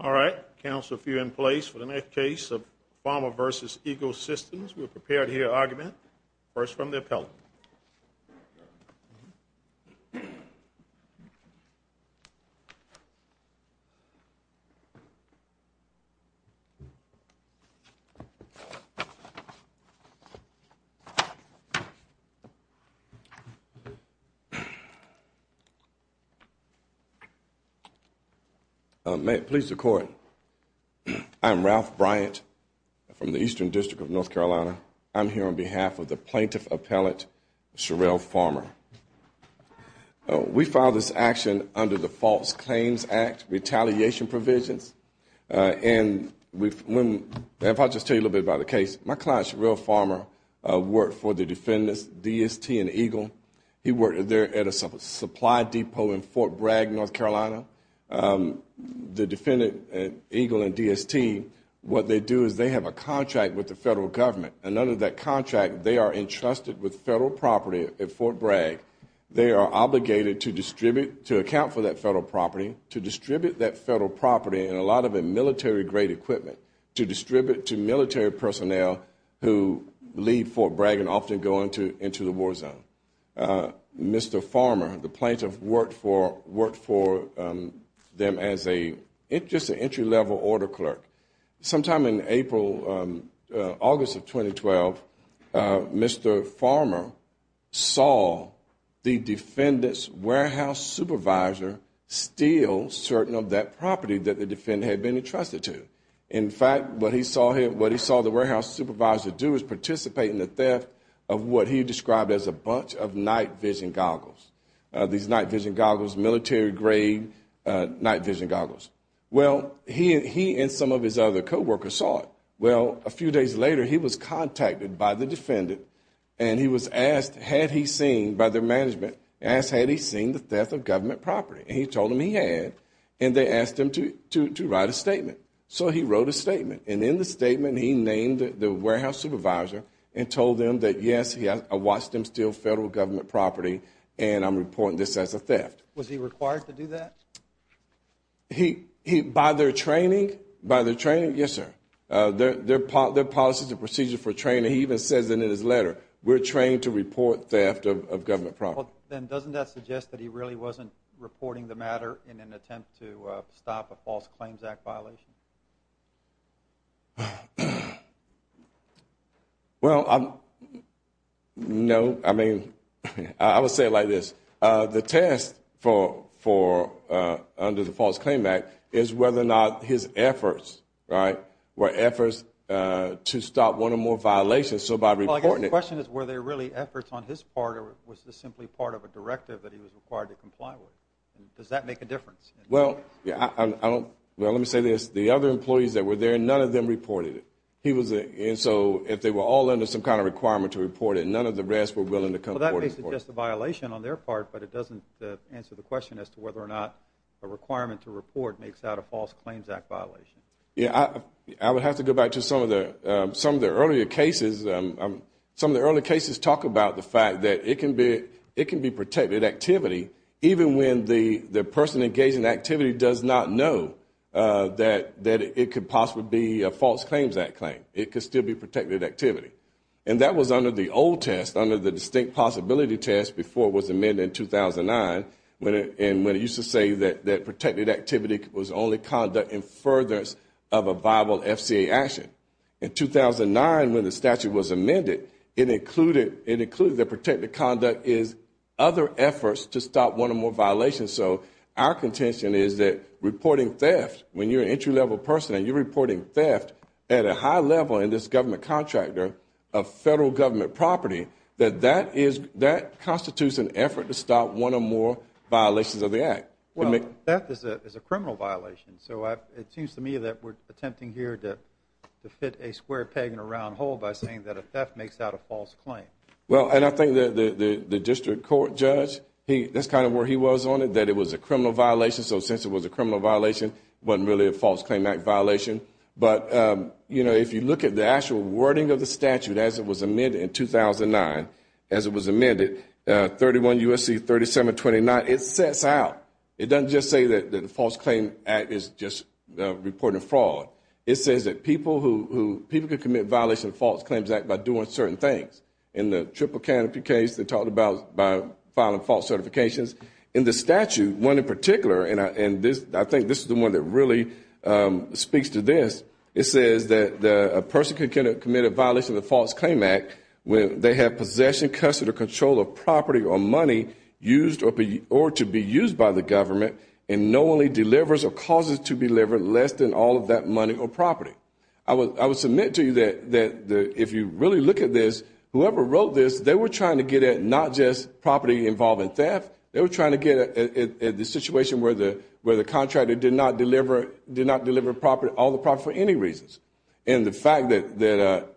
All right. Council, if you're in place for the next case of Farmer v. Eagle Systems, we're prepared to hear argument. First from the appellant. Please record. I'm Ralph Bryant from the Eastern District of North Carolina. I'm here on behalf of the plaintiff appellant, Sherell Farmer. We filed this action under the False Claims Act retaliation provisions. And if I'll just tell you a little bit about the case, my client, Sherell Farmer, worked for the defendants, DST and Eagle. He worked there at a supply depot in Fort Bragg, North Carolina. The defendant, Eagle and DST, what they do is they have a contract with the federal government. And under that contract, they are entrusted with federal property at Fort Bragg. They are obligated to distribute, to account for that federal property, to distribute that federal property and a lot of it military-grade equipment, to distribute to military personnel who leave Fort Bragg and often go into the war zone. Mr. Farmer, the plaintiff, worked for them as just an entry-level order clerk. Sometime in April, August of 2012, Mr. Farmer saw the defendant's warehouse supervisor steal certain of that property that the fact, what he saw him, what he saw the warehouse supervisor do is participate in the theft of what he described as a bunch of night-vision goggles, these night-vision goggles, military-grade night-vision goggles. Well, he and some of his other co-workers saw it. Well, a few days later, he was contacted by the defendant and he was asked had he seen by their management, asked had he seen the theft of government property. And he told them he had. And they asked him to make a statement. And in the statement, he named the warehouse supervisor and told them that, yes, I watched him steal federal government property and I'm reporting this as a theft. Was he required to do that? He, by their training, by their training, yes, sir. Their policies and procedures for training, he even says in his letter, we're trained to report theft of government property. Then doesn't that suggest that he really wasn't reporting the matter in an appropriate manner? Well, no. I mean, I would say it like this. The test for, under the False Claim Act, is whether or not his efforts, right, were efforts to stop one or more violations. So by reporting it. Well, I guess the question is were they really efforts on his part or was this simply part of a none of them reported it. And so if they were all under some kind of requirement to report it, none of the rest were willing to come forward and report it. Well, that makes it just a violation on their part, but it doesn't answer the question as to whether or not a requirement to report makes out a False Claims Act violation. Yeah, I would have to go back to some of the earlier cases. Some of the earlier cases talk about the fact that it can be protected activity, even when the person engaged in the activity does not know that it could possibly be a False Claims Act claim. It could still be protected activity. And that was under the old test, under the distinct possibility test before it was amended in 2009, when it used to say that protected activity was only conduct in furtherance of a viable violation. So our contention is that reporting theft, when you're an entry-level person and you're reporting theft at a high level in this government contractor of federal government property, that that constitutes an effort to stop one or more violations of the act. Well, theft is a criminal violation. So it seems to me that we're attempting here to fit a square peg in a round hole by saying that a theft makes out a False Claim. Well, and I think that the district court judge, that's kind of where he was on it, that it was a criminal violation. So since it was a criminal violation, it wasn't really a False Claim Act violation. But, you know, if you look at the actual wording of the statute as it was amended in 2009, as it was amended, 31 U.S.C. 3729, it sets out. It doesn't just say that the False Claim Act is just reporting fraud. It says that people who, people could commit violation of the False Claims Act by doing certain things. In the Triple Canopy case, they talked about filing false certifications. In the statute, one in particular, and I think this is the one that really speaks to this, it says that a person could commit a violation of the False Claim Act when they have possession, custody, or control of property or money used or to be used by the government and no one delivers or causes to deliver less than all of that money or property. I would submit to you that if you really look at this, whoever wrote this, they were trying to get at not just property involved in theft, they were trying to get at the situation where the contractor did not deliver all the property for any reasons. And the fact that,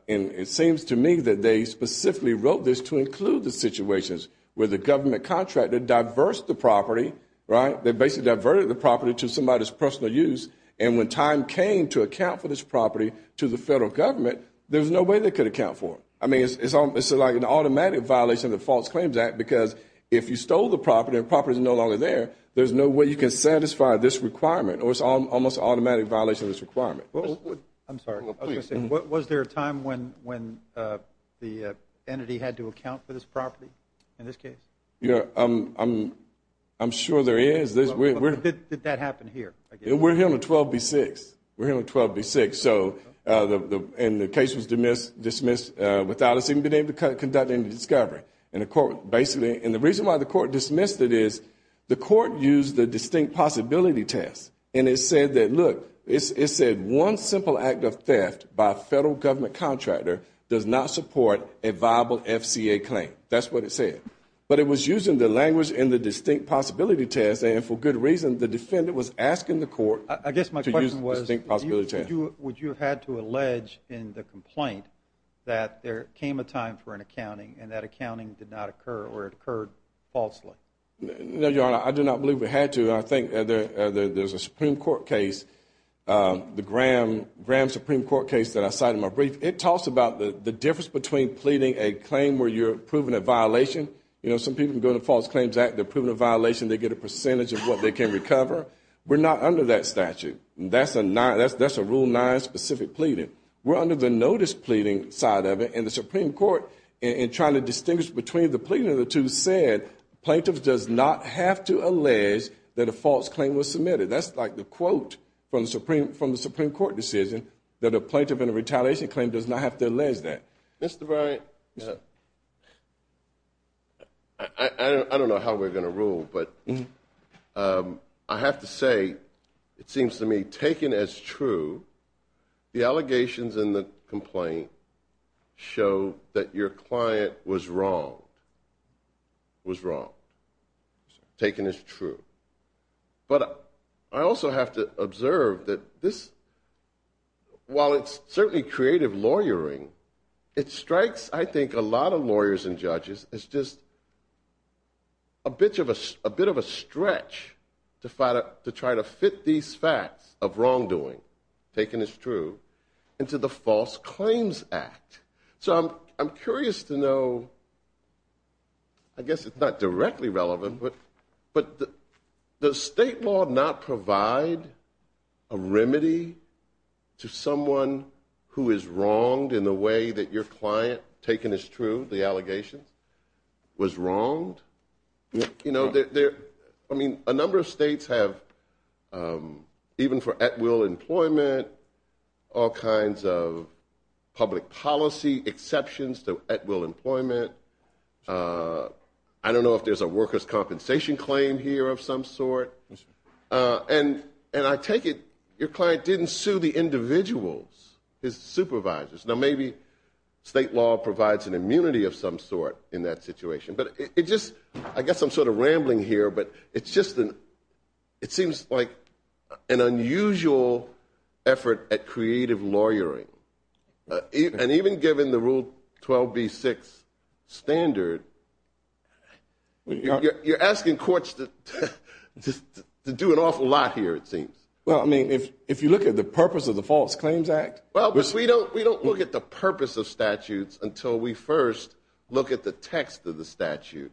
and it seems to me that they specifically wrote this to include the situations where the government contractor diversed the property, right? They basically diverted the property to somebody's personal use and when time came to account for this property to the False Claims Act because if you stole the property and the property is no longer there, there's no way you can satisfy this requirement or it's almost an automatic violation of this requirement. I'm sorry. I was going to say, was there a time when the entity had to account for this property in this case? I'm sure there is. Did that happen here? We're here on 12B6. We're here on 12B6. And the case was dismissed without us even being able to conduct any discovery. And the reason why the court dismissed it is the court used the distinct possibility test and it said that, look, it said one simple act of theft by a federal government contractor does not support a viable FCA claim. That's what it said. But it was using the language in the distinct possibility test and for good reason, the defendant was asking the court to use the distinct possibility test. I guess my question was, would you have had to allege in the complaint that there came a time for an accounting and that accounting did not occur or it occurred falsely? No, Your Honor. I do not believe we had to. I think there's a Supreme Court case, the Graham Supreme Court case that I cited in my brief. It talks about the difference between pleading a claim where you're proving a violation. You know, some people can go to the False Claims Act. They're proving a violation. We're not under that statute. That's a Rule 9 specific pleading. We're under the notice pleading side of it and the Supreme Court in trying to distinguish between the pleading of the two said plaintiffs does not have to allege that a false claim was submitted. That's like the quote from the Supreme Court decision that a plaintiff in a retaliation claim does not have to allege that. Mr. Bryant, I don't know how we're going to rule, but I have to say, it seems to me, taken as true, the allegations in the complaint show that your creative lawyering, it strikes, I think, a lot of lawyers and judges as just a bit of a stretch to try to fit these facts of wrongdoing, taken as true, into the way that your client, taken as true, the allegations, was wronged. I mean, a number of states have, even for at-will employment, all kinds of public policy exceptions to at-will employment. I don't know if there's a workers' compensation claim here of some sort. And I take it your client didn't sue the supervisors. Now, maybe state law provides an immunity of some sort in that situation. But I guess I'm sort of rambling here, but it seems like an unusual effort at creative lawyering. And even given the Rule 12b-6 standard, you're asking courts to do an awful lot here, it seems. Well, I mean, if you look at the purpose of the False Claims Act... Well, but we don't look at the purpose of statutes until we first look at the text of the statute,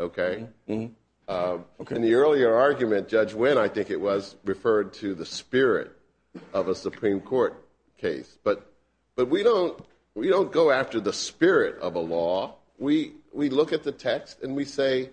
okay? In the earlier argument, Judge Wynn, I think it was, referred to the spirit of a Supreme Court case. But we don't go after the spirit of a law. We look at the text and we say,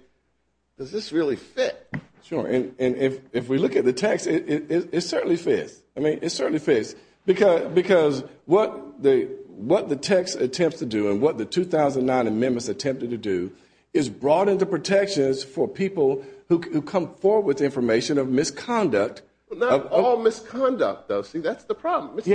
does this really fit? Sure. And if we look at the text, it certainly fits. I mean, it certainly fits. Because what the text attempts to do and what the 2009 amendments attempted to do is broaden the protections for people who come forward with information of misconduct. Not all misconduct, though. See, that's the problem. It's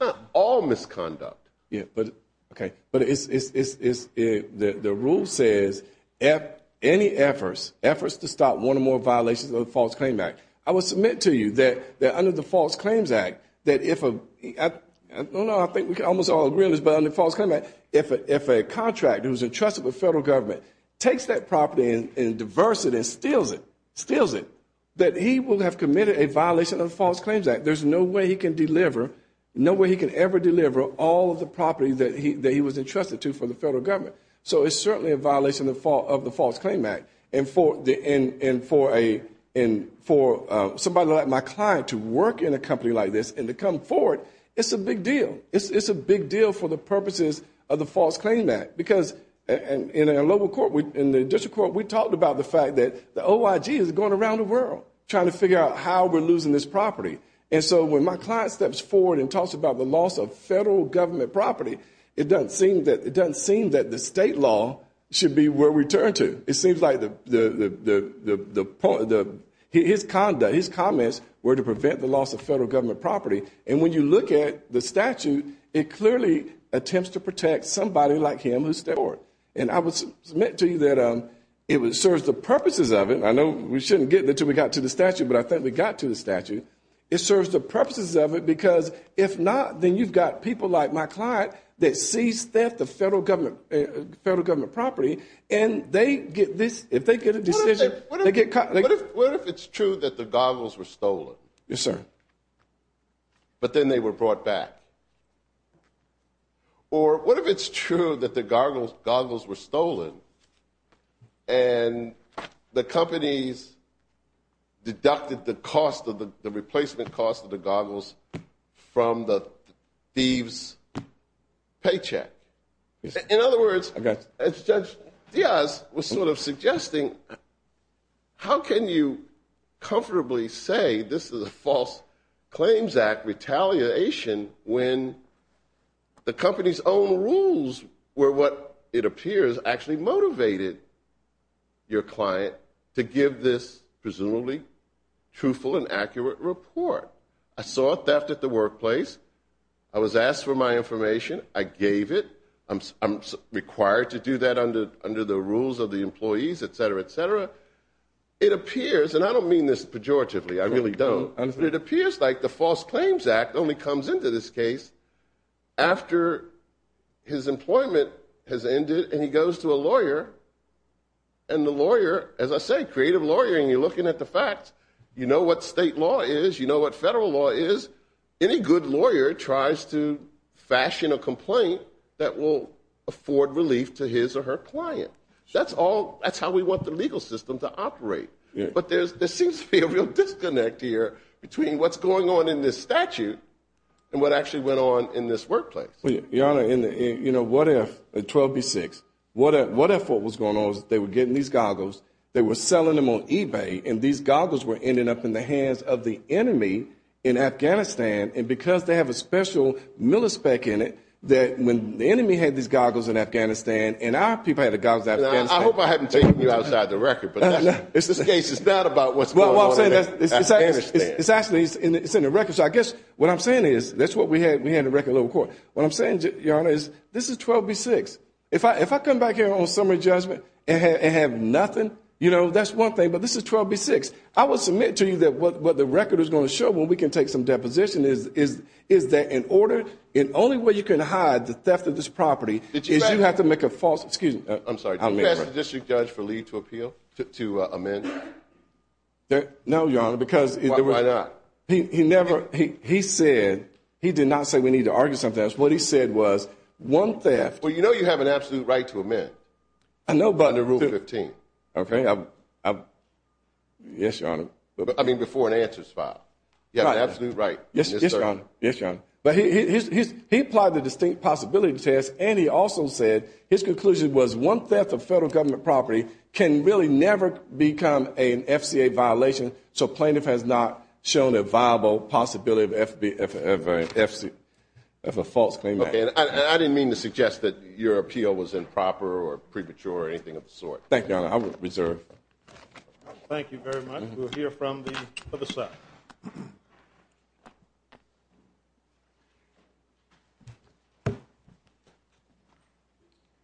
not all misconduct. Yeah, but, okay. But the rule says, any efforts, efforts to stop one or more violations of the False Claims Act, I will submit to you that under the False Claims Act, that if a, I don't know, I think we can almost all agree on this, but under the False Claims Act, if a contractor who's entrusted with federal government takes that property and diversifies it and steals it, steals it, that he will have committed a violation of the False Claims Act. There's no way he can deliver, no way he can ever deliver all of the property that he was entrusted to for the federal government. So it's certainly a violation of the False Claims Act. And for somebody like my client to work in a company like this and to come forward, it's a big deal. It's a big deal for the purposes of the False Claims Act. Because in our local court, in the district court, we talked about the fact that the OIG is going around the world trying to figure out how we're losing this property. And so when my client steps forward and talks about the loss of federal government property, it doesn't seem that, it doesn't seem that the state law should be where we turn to. It seems like the, his conduct, his comments were to prevent the loss of federal government property. And when you look at the statute, it clearly attempts to protect somebody like him who stole it. And I would submit to you that it serves the purposes of it. I know we shouldn't get there until we got to the statute, but I think we got to the statute. It serves the purposes of it, because if not, then you've got people like my client that seized theft of federal government property, and they get this, if they get a decision, they get caught. What if it's true that the goggles were stolen? Yes, sir. But then they were brought back? Or what if it's true that the goggles were stolen, and the companies deducted the cost of the, the replacement cost of the When you comfortably say this is a false claims act retaliation when the company's own rules were what it appears actually motivated your client to give this presumably truthful and accurate report. I saw theft at the workplace. I was asked for my information. I gave it. I'm required to do that under the rules of the It appears, and I don't mean this pejoratively, I really don't, but it appears like the false claims act only comes into this case after his employment has ended, and he goes to a lawyer, and the lawyer, as I say, creative lawyering, you're looking at the facts, you know what state law is, you know what federal law is, any good lawyer tries to fashion a complaint that will afford relief to his or her client. That's all, that's how we want the legal system to operate. But there's, there seems to be a real disconnect here between what's going on in this statute, and what actually went on in this workplace. Your Honor, in the, you know, what if, 12B6, what if what was going on was they were getting these goggles, they were selling them on eBay, and these goggles were ending up in the hands of the enemy in Afghanistan, and because they have a special millispec in it, that when the enemy had these goggles in Afghanistan, and our people had the goggles in Afghanistan. I hope I haven't taken you outside the record, but in this case it's not about what's going on in Afghanistan. It's actually, it's in the record, so I guess what I'm saying is, that's what we had in the record in the lower court. What I'm saying, Your Honor, is this is 12B6. If I come back here on summary judgment and have nothing, you know, that's one thing, but this is 12B6. I will submit to you that what the record is going to show when we can take some deposition is that in order, the only way you can hide the theft of this property is you have to make a false, excuse me. I'm sorry, did you ask the district judge for leave to appeal, to amend? No, Your Honor, because. Why not? He never, he said, he did not say we need to argue something else. What he said was, one theft. Well, you know you have an absolute right to amend. I know, but. Under Rule 15. Okay. Yes, Your Honor. I mean, before an answer is filed. You have an absolute right. Yes, Your Honor. Yes, Your Honor. But he applied the distinct possibility test, and he also said his conclusion was, one theft of federal government property can really never become an FCA violation, so plaintiff has not shown a viable possibility of a false claim. Okay, and I didn't mean to suggest that your appeal was improper or premature or anything of the sort. Thank you, Your Honor. I will reserve. Thank you very much. We'll hear from the other side.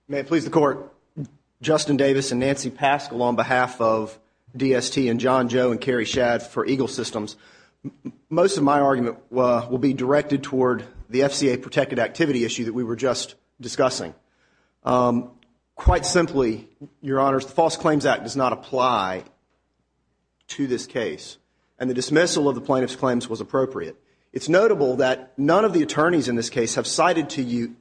May it please the Court, Justin Davis and Nancy Paschal on behalf of DST and John Joe and Carrie Shadd for Eagle Systems. Most of my argument will be directed toward the FCA protected activity issue that we were just discussing. Quite simply, Your Honors, the False Claims Act does not apply to this case, and the dismissal of the plaintiff's claims was appropriate. It's notable that none of the attorneys in this case have cited to you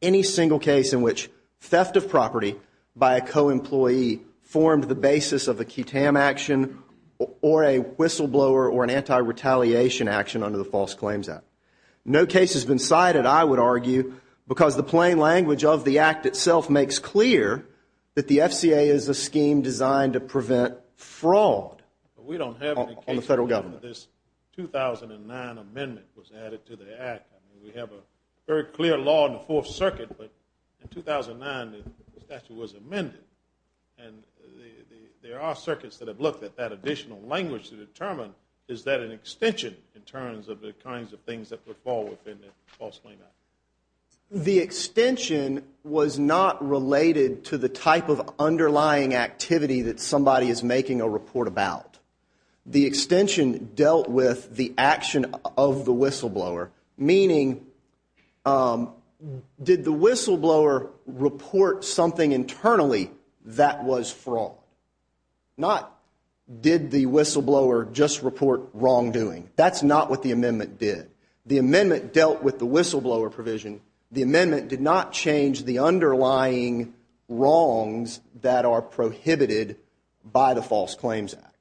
any single case in which theft of property by a co-employee formed the basis of a QTAM action or a whistleblower or an anti-retaliation action under the False Claims Act. No case has been cited, I would argue, because the plain language of the Act itself makes clear that the FCA is a scheme designed to prevent fraud on the Federal Government. We don't have any cases where this 2009 amendment was added to the Act. We have a very clear law in the Fourth Circuit, but in 2009 the statute was amended, and there are circuits that have looked at that additional language to determine, is that an extension in terms of the kinds of things that would fall within the False Claims Act? The extension was not related to the type of underlying activity that somebody is making a report about. The extension dealt with the action of the whistleblower, meaning did the whistleblower report something internally that was fraud? Not did the whistleblower just report wrongdoing. That's not what the amendment did. The amendment dealt with the whistleblower provision. The amendment did not change the underlying wrongs that are prohibited by the False Claims Act.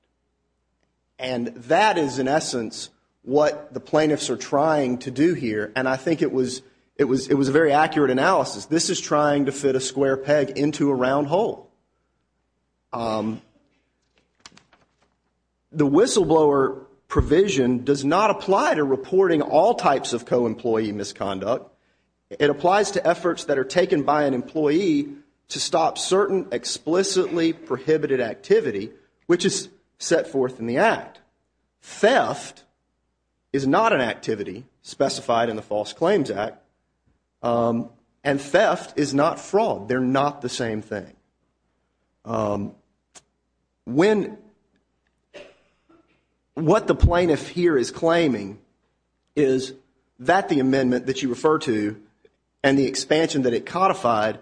And that is, in essence, what the plaintiffs are trying to do here, and I think it was a very accurate analysis. This is trying to fit a square peg into a round hole. The whistleblower provision does not apply to reporting all types of co-employee misconduct. It applies to efforts that are taken by an employee to stop certain explicitly prohibited activity, which is set forth in the Act. Theft is not an activity specified in the False Claims Act, and theft is not fraud. They're not the same thing. What the plaintiff here is claiming is that the amendment that you refer to and the expansion that it codified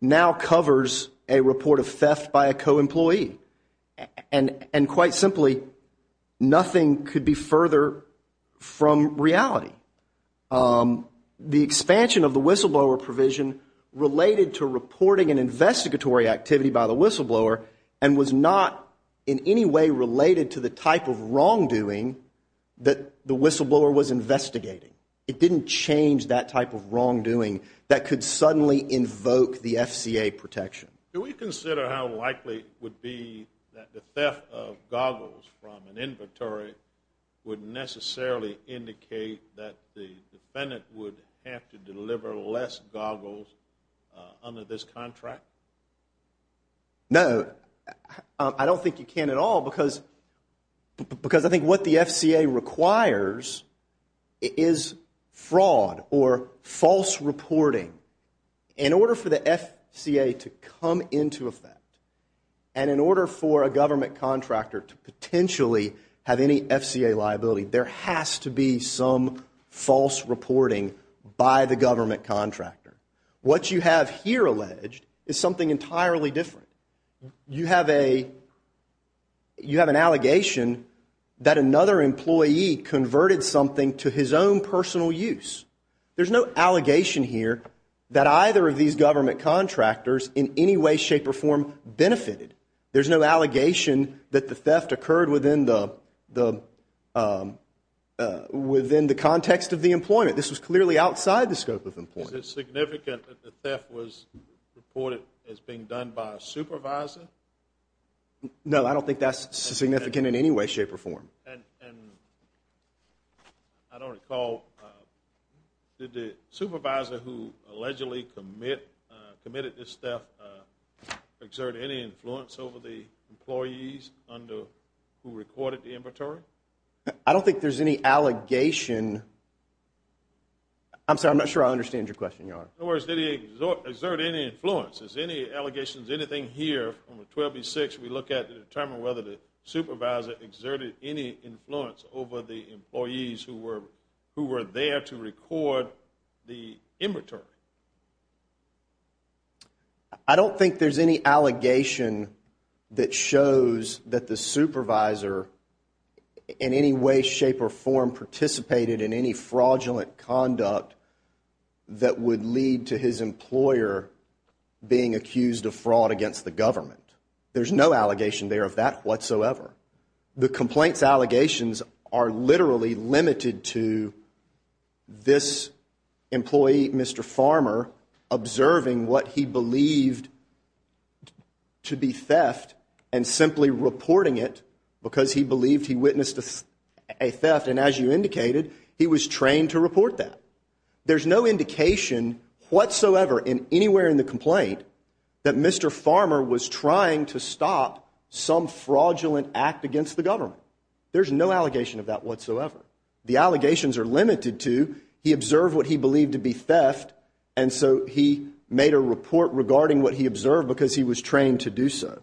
now covers a report of theft by a co-employee. And quite simply, nothing could be further from reality. The expansion of the whistleblower provision related to reporting and investigatory activity by the whistleblower and was not in any way related to the type of wrongdoing that the whistleblower was investigating. It didn't change that type of wrongdoing that could suddenly invoke the FCA protection. Do we consider how likely it would be that the theft of goggles from an inventory would necessarily indicate that the defendant would have to deliver less goggles under this contract? No. I don't think you can at all because I think what the FCA requires is fraud or false reporting. In order for the FCA to come into effect and in order for a government contractor to potentially have any FCA liability, there has to be some false reporting by the government contractor. What you have here alleged is something entirely different. You have an allegation that another employee converted something to his own personal use. There's no allegation here that either of these government contractors in any way, shape, or form benefited. There's no allegation that the theft occurred within the context of the employment. This was clearly outside the scope of employment. Is it significant that the theft was reported as being done by a supervisor? No, I don't think that's significant in any way, shape, or form. And I don't recall, did the supervisor who allegedly committed this theft exert any influence over the employees who recorded the inventory? I don't think there's any allegation. I'm sorry, I'm not sure I understand your question, Your Honor. In other words, did he exert any influence? Is there any allegations, anything here from 12B6 we look at to determine whether the supervisor exerted any influence over the employees who were there to record the inventory? I don't think there's any allegation that shows that the supervisor in any way, shape, or form participated in any fraudulent conduct that would lead to his employer being accused of fraud against the government. There's no allegation there of that whatsoever. The complaints allegations are literally limited to this employee, Mr. Farmer, observing what he believed to be theft and simply reporting it because he believed he witnessed a theft, and as you indicated, he was trained to report that. There's no indication whatsoever in anywhere in the complaint that Mr. Farmer was trying to stop some fraudulent act against the government. There's no allegation of that whatsoever. The allegations are limited to he observed what he believed to be theft, and so he made a report regarding what he observed because he was trained to do so.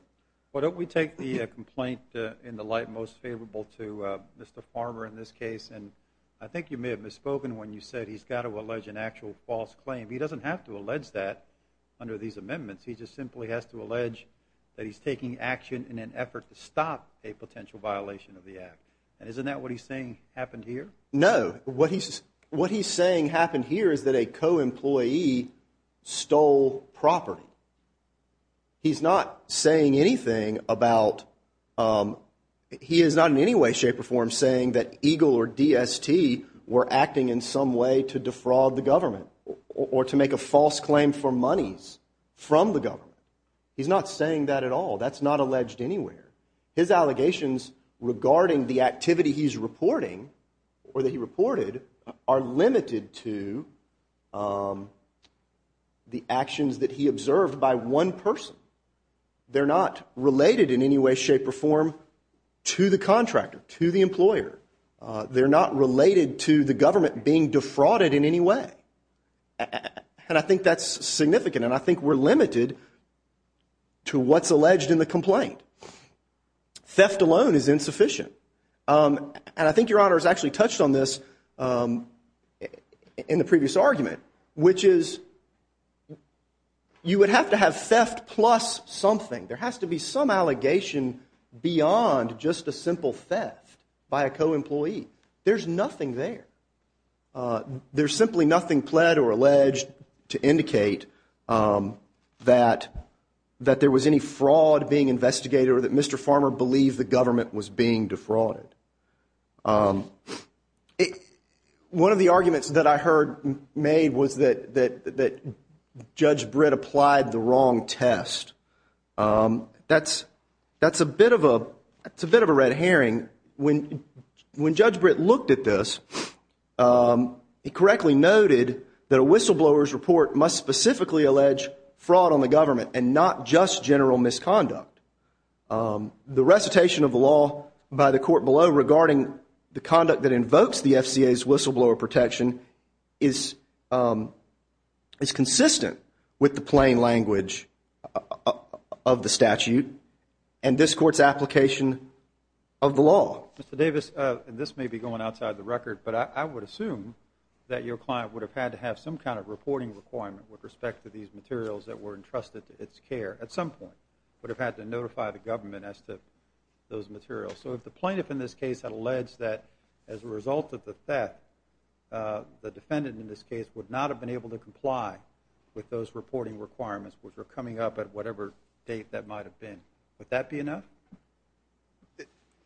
Why don't we take the complaint in the light most favorable to Mr. Farmer in this case, and I think you may have misspoken when you said he's got to allege an actual false claim. He doesn't have to allege that under these amendments. He just simply has to allege that he's taking action in an effort to stop a potential violation of the act, and isn't that what he's saying happened here? No. What he's saying happened here is that a co-employee stole property. He's not saying anything about—he is not in any way, shape, or form saying that EGLE or DST were acting in some way to defraud the government or to make a false claim for monies from the government. He's not saying that at all. That's not alleged anywhere. His allegations regarding the activity he's reporting or that he reported are limited to the actions that he observed by one person. They're not related in any way, shape, or form to the contractor, to the employer. They're not related to the government being defrauded in any way, and I think that's significant, and I think we're limited to what's alleged in the complaint. Theft alone is insufficient, and I think Your Honor has actually touched on this in the previous argument, which is you would have to have theft plus something. There has to be some allegation beyond just a simple theft by a co-employee. There's nothing there. There's simply nothing pled or alleged to indicate that there was any fraud being investigated or that Mr. Farmer believed the government was being defrauded. One of the arguments that I heard made was that Judge Britt applied the wrong test. That's a bit of a red herring. When Judge Britt looked at this, he correctly noted that a whistleblower's report must specifically allege fraud on the government and not just general misconduct. The recitation of the law by the court below regarding the conduct that invokes the FCA's whistleblower protection is consistent with the plain language of the statute and this Court's application of the law. Mr. Davis, this may be going outside the record, but I would assume that your client would have had to have some kind of reporting requirement with respect to these materials that were entrusted to its care at some point, would have had to notify the government as to those materials. So if the plaintiff in this case had alleged that as a result of the theft, the defendant in this case would not have been able to comply with those reporting requirements which were coming up at whatever date that might have been, would that be enough?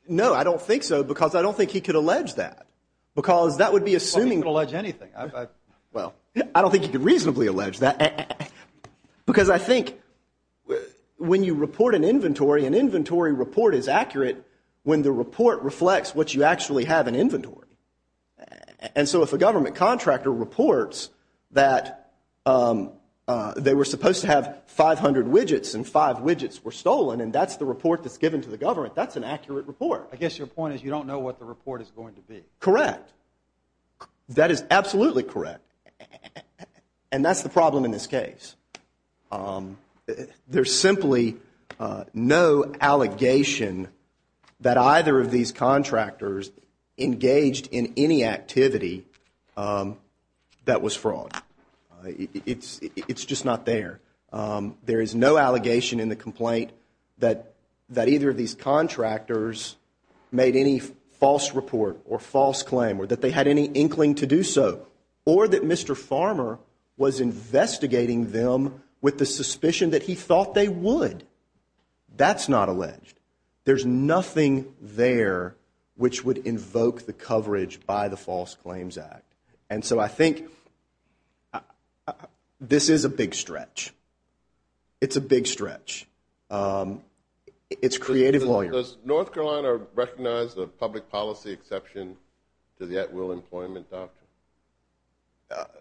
No, I don't think so, because I don't think he could allege that, because that would be assuming... Well, he could allege anything. Well, I don't think he could reasonably allege that, because I think when you report an inventory, an inventory report is accurate when the report reflects what you actually have in inventory. And so if a government contractor reports that they were supposed to have 500 widgets and five widgets were stolen and that's the report that's given to the government, that's an accurate report. I guess your point is you don't know what the report is going to be. Correct. That is absolutely correct. And that's the problem in this case. There's simply no allegation that either of these contractors engaged in any activity that was fraud. It's just not there. There is no allegation in the complaint that either of these contractors made any false report or false claim or that they had any inkling to do so, or that Mr. Farmer was investigating them with the suspicion that he thought they would. That's not alleged. There's nothing there which would invoke the coverage by the False Claims Act. And so I think this is a big stretch. It's a big stretch. It's creative lawyering. Does North Carolina recognize the public policy exception to the at-will employment doctrine?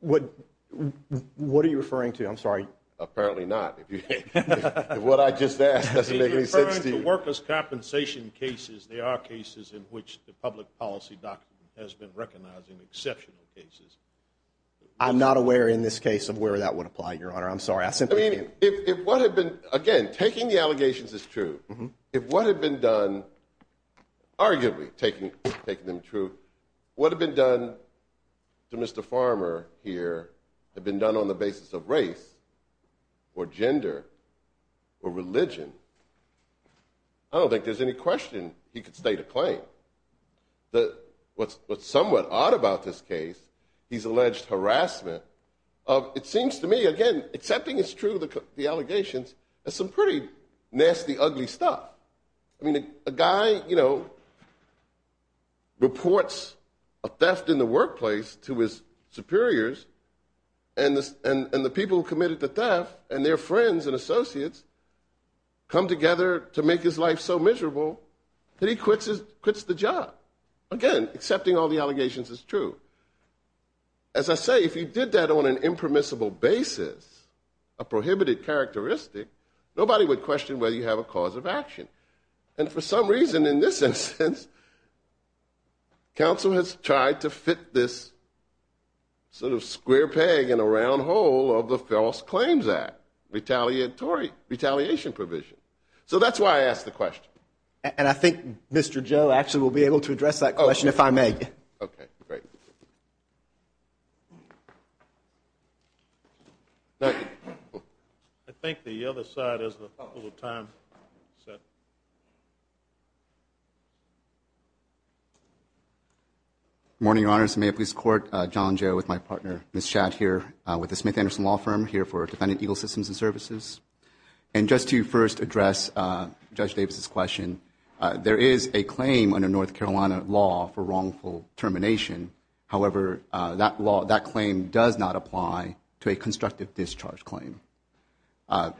What are you referring to? I'm sorry. Apparently not. What I just asked doesn't make any sense to you. He's referring to workers' compensation cases. There are cases in which the public policy doctrine has been recognizing exceptional cases. I'm not aware in this case of where that would apply, Your Honor. I'm sorry. I simply can't. Again, taking the allegations is true. If what had been done, arguably taking them true, what had been done to Mr. Farmer here had been done on the basis of race or gender or religion, I don't think there's any question he could state a claim. What's somewhat odd about this case, he's alleged harassment. It seems to me, again, accepting it's true, the allegations, is some pretty nasty, ugly stuff. I mean, a guy reports a theft in the workplace to his superiors, and the people who committed the theft and their friends and associates come together to make his life so miserable that he quits the job. Again, accepting all the allegations is true. As I say, if he did that on an impermissible basis, a prohibited characteristic, nobody would question whether you have a cause of action. And for some reason in this instance, counsel has tried to fit this sort of square peg in a round hole of the False Claims Act retaliation provision. So that's why I asked the question. And I think Mr. Joe actually will be able to address that question if I may. Okay, great. Thank you. I think the other side has a little time. Good morning, Your Honors. May I please court John Joe with my partner, Ms. Schatt, here with the Smith Anderson Law Firm, here for Defendant Eagle Systems and Services. And just to first address Judge Davis's question, there is a claim under North Carolina law for wrongful termination. However, that claim does not apply to a constructive discharge claim.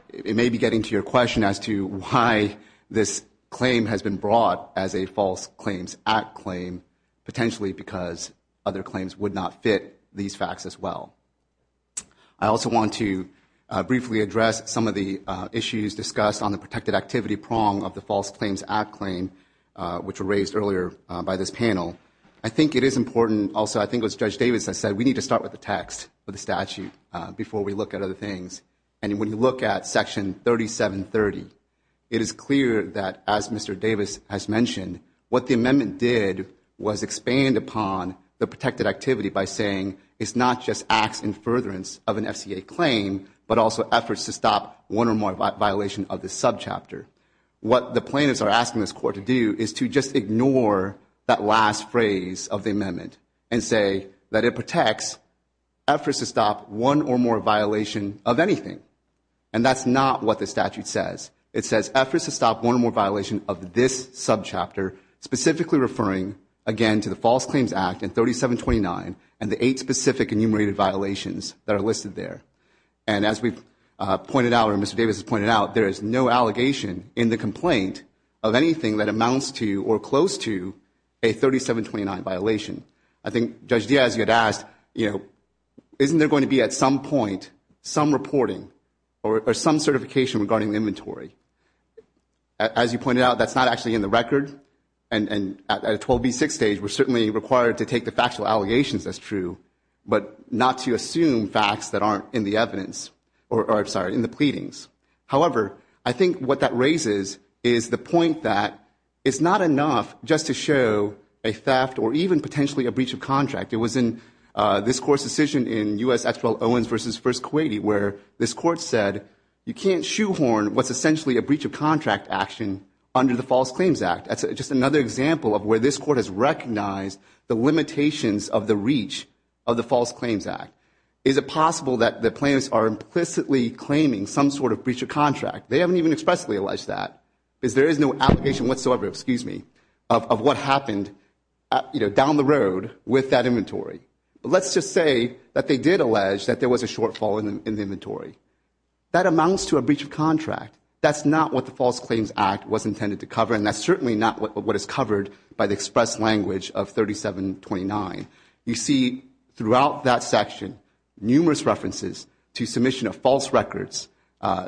It may be getting to your question as to why this claim has been brought as a False Claims Act claim, potentially because other claims would not fit these facts as well. I also want to briefly address some of the issues discussed on the protected activity prong of the False Claims Act claim, which were raised earlier by this panel. I think it is important also, I think it was Judge Davis that said we need to start with the text, with the statute, before we look at other things. And when you look at Section 3730, it is clear that, as Mr. Davis has mentioned, what the amendment did was expand upon the protected activity by saying, it is not just acts in furtherance of an FCA claim, but also efforts to stop one or more violations of this subchapter. What the plaintiffs are asking this court to do is to just ignore that last phrase of the amendment and say that it protects efforts to stop one or more violations of anything. And that is not what the statute says. It says efforts to stop one or more violations of this subchapter, specifically referring, again, to the False Claims Act and 3729 and the eight specific enumerated violations that are listed there. And as we've pointed out, or as Mr. Davis has pointed out, there is no allegation in the complaint of anything that amounts to or close to a 3729 violation. I think Judge Diaz, you had asked, you know, isn't there going to be at some point some reporting or some certification regarding inventory? As you pointed out, that's not actually in the record. And at a 12B6 stage, we're certainly required to take the factual allegations, that's true, but not to assume facts that aren't in the evidence or, I'm sorry, in the pleadings. However, I think what that raises is the point that it's not enough just to show a theft or even potentially a breach of contract. It was in this Court's decision in U.S. Act 12, Owens v. First Kuwaiti, where this Court said you can't shoehorn what's essentially a breach of contract action under the False Claims Act. That's just another example of where this Court has recognized the limitations of the reach of the False Claims Act. Is it possible that the plaintiffs are implicitly claiming some sort of breach of contract? They haven't even expressly alleged that. There is no allegation whatsoever of what happened down the road with that inventory. Let's just say that they did allege that there was a shortfall in the inventory. That amounts to a breach of contract. That's not what the False Claims Act was intended to cover, and that's certainly not what is covered by the express language of 3729. You see throughout that section numerous references to submission of false records,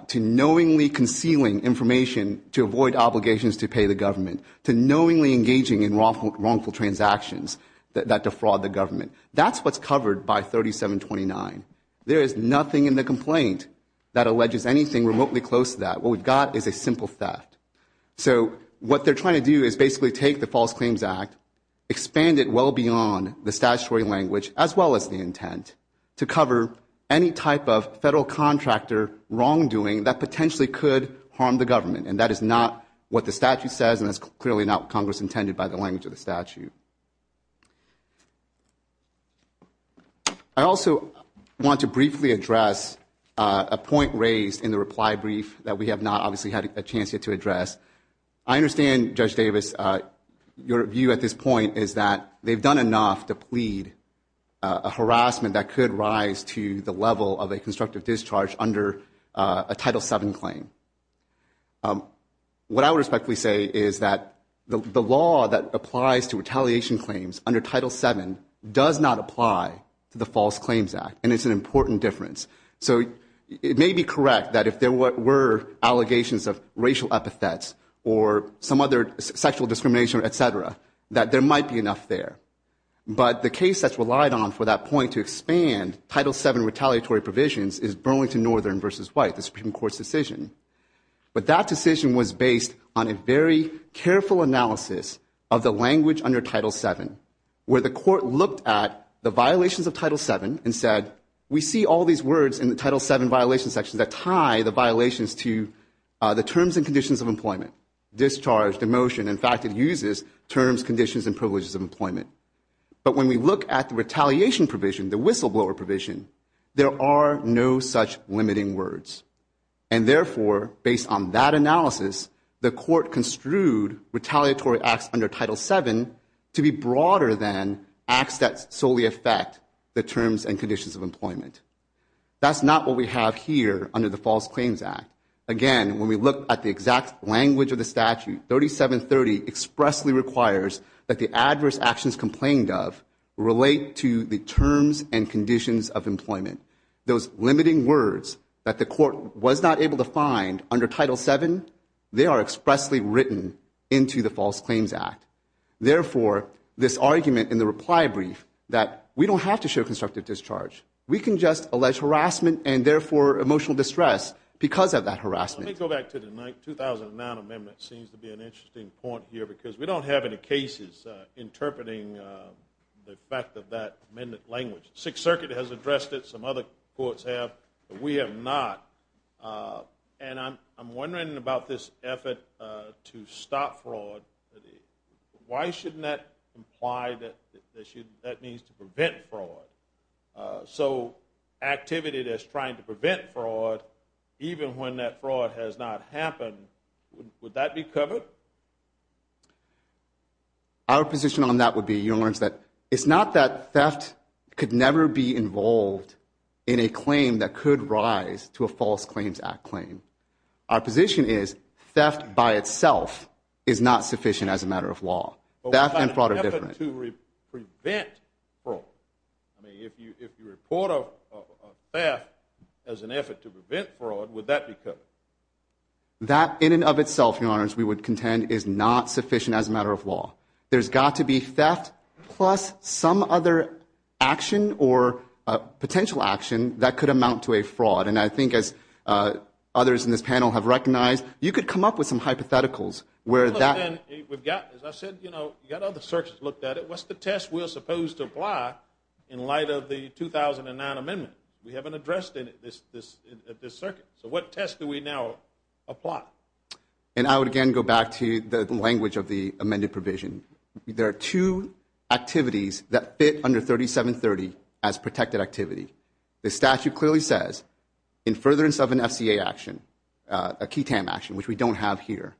to knowingly concealing information to avoid obligations to pay the government, to knowingly engaging in wrongful transactions that defraud the government. That's what's covered by 3729. There is nothing in the complaint that alleges anything remotely close to that. What we've got is a simple theft. So what they're trying to do is basically take the False Claims Act, expand it well beyond the statutory language as well as the intent to cover any type of federal contractor wrongdoing that potentially could harm the government, and that is not what the statute says and that's clearly not what Congress intended by the language of the statute. I also want to briefly address a point raised in the reply brief that we have not obviously had a chance yet to address. I understand, Judge Davis, your view at this point is that they've done enough to plead a harassment that could rise to the level of a constructive discharge under a Title VII claim. What I would respectfully say is that the law that applies to retaliation claims under Title VII does not apply to the False Claims Act, and it's an important difference. So it may be correct that if there were allegations of racial epithets or some other sexual discrimination, et cetera, that there might be enough there. But the case that's relied on for that point to expand Title VII retaliatory provisions is Burlington Northern v. White, the Supreme Court's decision. But that decision was based on a very careful analysis of the language under Title VII where the Court looked at the violations of Title VII and said, we see all these words in the Title VII violation section that tie the violations to the terms and conditions of employment, discharge, demotion. In fact, it uses terms, conditions, and privileges of employment. But when we look at the retaliation provision, the whistleblower provision, there are no such limiting words. And therefore, based on that analysis, the Court construed retaliatory acts under Title VII to be broader than acts that solely affect the terms and conditions of employment. That's not what we have here under the False Claims Act. Again, when we look at the exact language of the statute, 3730 expressly requires that the adverse actions complained of relate to the terms and conditions of employment. Those limiting words that the Court was not able to find under Title VII, they are expressly written into the False Claims Act. Therefore, this argument in the reply brief that we don't have to show constructive discharge. We can just allege harassment and, therefore, emotional distress because of that harassment. Let me go back to the 2009 amendment. It seems to be an interesting point here because we don't have any cases interpreting the fact of that amendment language. The Sixth Circuit has addressed it. Some other courts have, but we have not. And I'm wondering about this effort to stop fraud. Why shouldn't that imply that that means to prevent fraud? So activity that's trying to prevent fraud, even when that fraud has not happened, would that be covered? Our position on that would be, Your Honor, that it's not that theft could never be involved in a claim that could rise to a False Claims Act claim. Our position is theft by itself is not sufficient as a matter of law. Theft and fraud are different. But what about an effort to prevent fraud? I mean, if you report a theft as an effort to prevent fraud, would that be covered? That in and of itself, Your Honor, as we would contend, is not sufficient as a matter of law. There's got to be theft plus some other action or potential action that could amount to a fraud. And I think as others in this panel have recognized, you could come up with some hypotheticals where that. We've got, as I said, you know, you've got other circuits looked at it. What's the test we're supposed to apply in light of the 2009 amendment? We haven't addressed it at this circuit. So what test do we now apply? And I would again go back to the language of the amended provision. There are two activities that fit under 3730 as protected activity. The statute clearly says, in furtherance of an FCA action, a KETAM action, which we don't have here,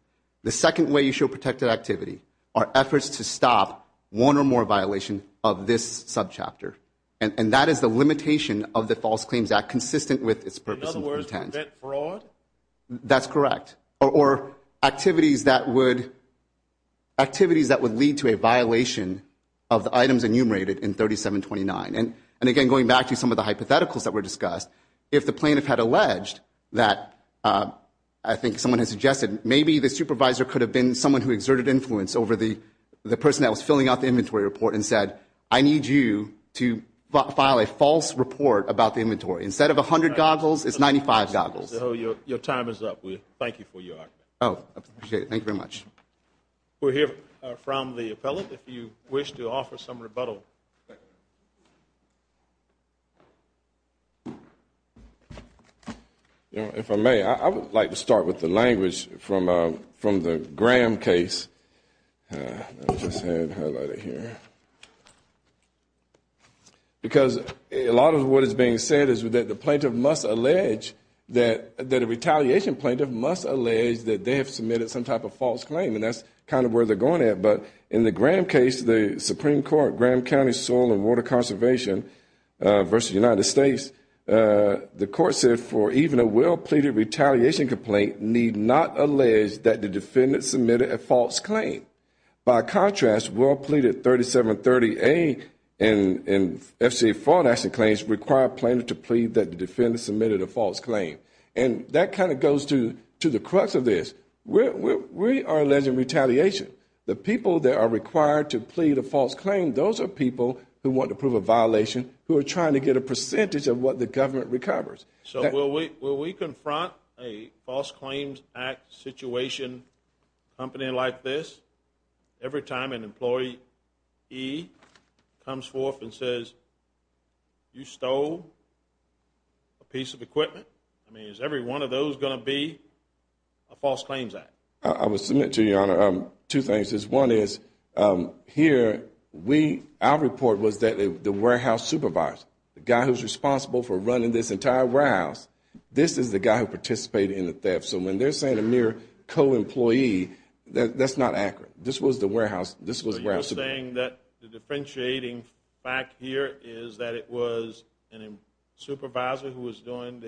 the second way you show protected activity are efforts to stop one or more violations of this subchapter. And that is the limitation of the False Claims Act consistent with its purpose and content. In other words, prevent fraud? That's correct. Or activities that would lead to a violation of the items enumerated in 3729. And again, going back to some of the hypotheticals that were discussed, if the plaintiff had alleged that I think someone had suggested maybe the supervisor could have been someone who exerted influence over the person that was filling out the inventory report and said, I need you to file a false report about the inventory. Instead of 100 goggles, it's 95 goggles. Your time is up. Thank you for your argument. Oh, I appreciate it. Thank you very much. We'll hear from the appellate if you wish to offer some rebuttal. If I may, I would like to start with the language from the Graham case. Let me just highlight it here. Because a lot of what is being said is that the plaintiff must allege that a retaliation plaintiff must allege that they have submitted some type of false claim, and that's kind of where they're going at. But in the Graham case, the Supreme Court, Graham County Soil and Water Conservation v. United States, the court said, for even a well-pleaded retaliation complaint, need not allege that the defendant submitted a false claim. By contrast, well-pleaded 3730A and FCA fraud action claims require plaintiffs to plead that the defendant submitted a false claim. And that kind of goes to the crux of this. We are alleging retaliation. The people that are required to plead a false claim, those are people who want to prove a violation, who are trying to get a percentage of what the government recovers. So will we confront a False Claims Act situation, a company like this, every time an employee comes forth and says, you stole a piece of equipment? I mean, is every one of those going to be a False Claims Act? I would submit to you, Your Honor, two things. One is, here, our report was that the warehouse supervisor, the guy who's responsible for running this entire warehouse, this is the guy who participated in the theft. So when they're saying a mere co-employee, that's not accurate. This was the warehouse supervisor. So you're saying that the differentiating fact here is that it was a supervisor who was doing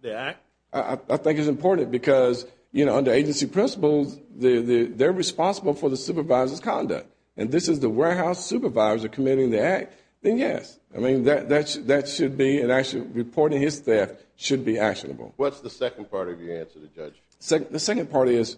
the act? I think it's important because, you know, under agency principles, they're responsible for the supervisor's conduct. And this is the warehouse supervisor committing the act, then yes. I mean, that should be, and actually reporting his theft should be actionable. What's the second part of your answer to the judge? The second part is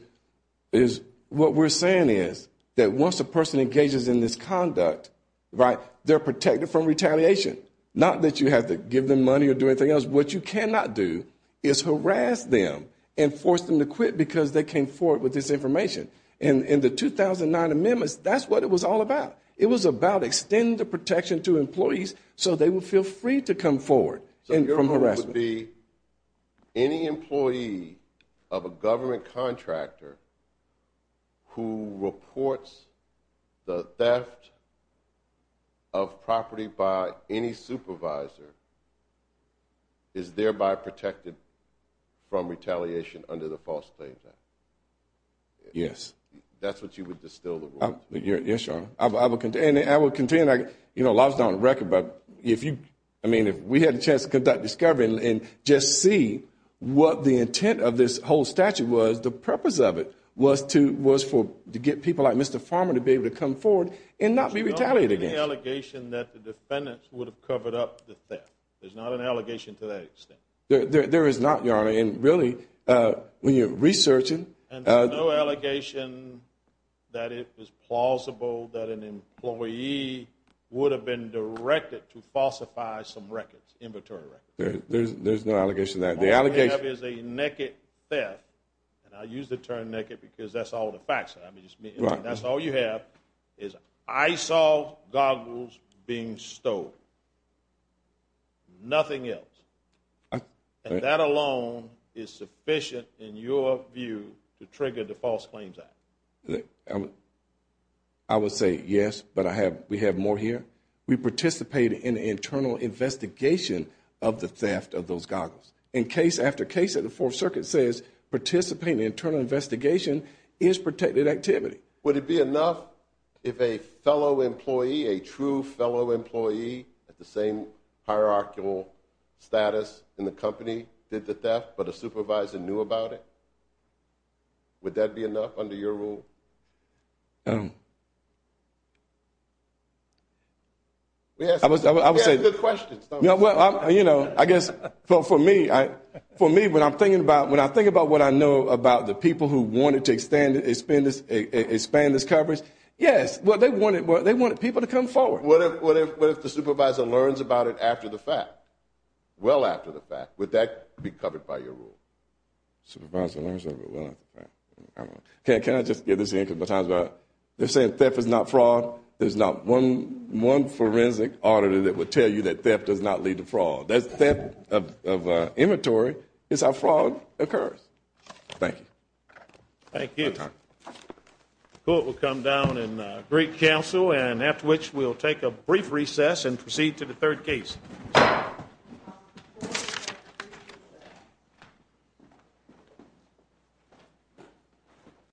what we're saying is that once a person engages in this conduct, right, they're protected from retaliation, not that you have to give them money or do anything else. What you cannot do is harass them and force them to quit because they came forward with this information. And in the 2009 amendments, that's what it was all about. It was about extending the protection to employees so they would feel free to come forward from harassment. Your answer would be any employee of a government contractor who reports the theft of property by any supervisor is thereby protected from retaliation under the False Claims Act? Yes. That's what you would distill the rule? Yes, Your Honor. And I will continue, you know, a lot is down on the record, but if you, I mean, if we had a chance to conduct discovery and just see what the intent of this whole statute was, the purpose of it was to get people like Mr. Farmer to be able to come forward and not be retaliated against. There's no allegation that the defendant would have covered up the theft. There's not an allegation to that extent. There is not, Your Honor. And really, when you're researching. And there's no allegation that it was plausible that an employee would have been directed to falsify some records, inventory records. There's no allegation to that. The only thing we have is a naked theft, and I use the term naked because that's all the facts. I mean, that's all you have is eyesalve goggles being stolen, nothing else. And that alone is sufficient, in your view, to trigger the False Claims Act. I would say yes, but we have more here. We participated in an internal investigation of the theft of those goggles. In case after case, the Fourth Circuit says participating in an internal investigation is protected activity. Would it be enough if a fellow employee, a true fellow employee at the same hierarchical status in the company did the theft, but a supervisor knew about it? Would that be enough under your rule? Well, you know, I guess for me, when I think about what I know about the people who wanted to expand this coverage, yes. Well, they wanted people to come forward. What if the supervisor learns about it after the fact, well after the fact? Would that be covered by your rule? Can I just get this in? They're saying theft is not fraud. There's not one forensic auditor that would tell you that theft does not lead to fraud. Theft of inventory is how fraud occurs. Thank you. Thank you. The court will come down in Greek Council, and after which we'll take a brief recess and proceed to the third case.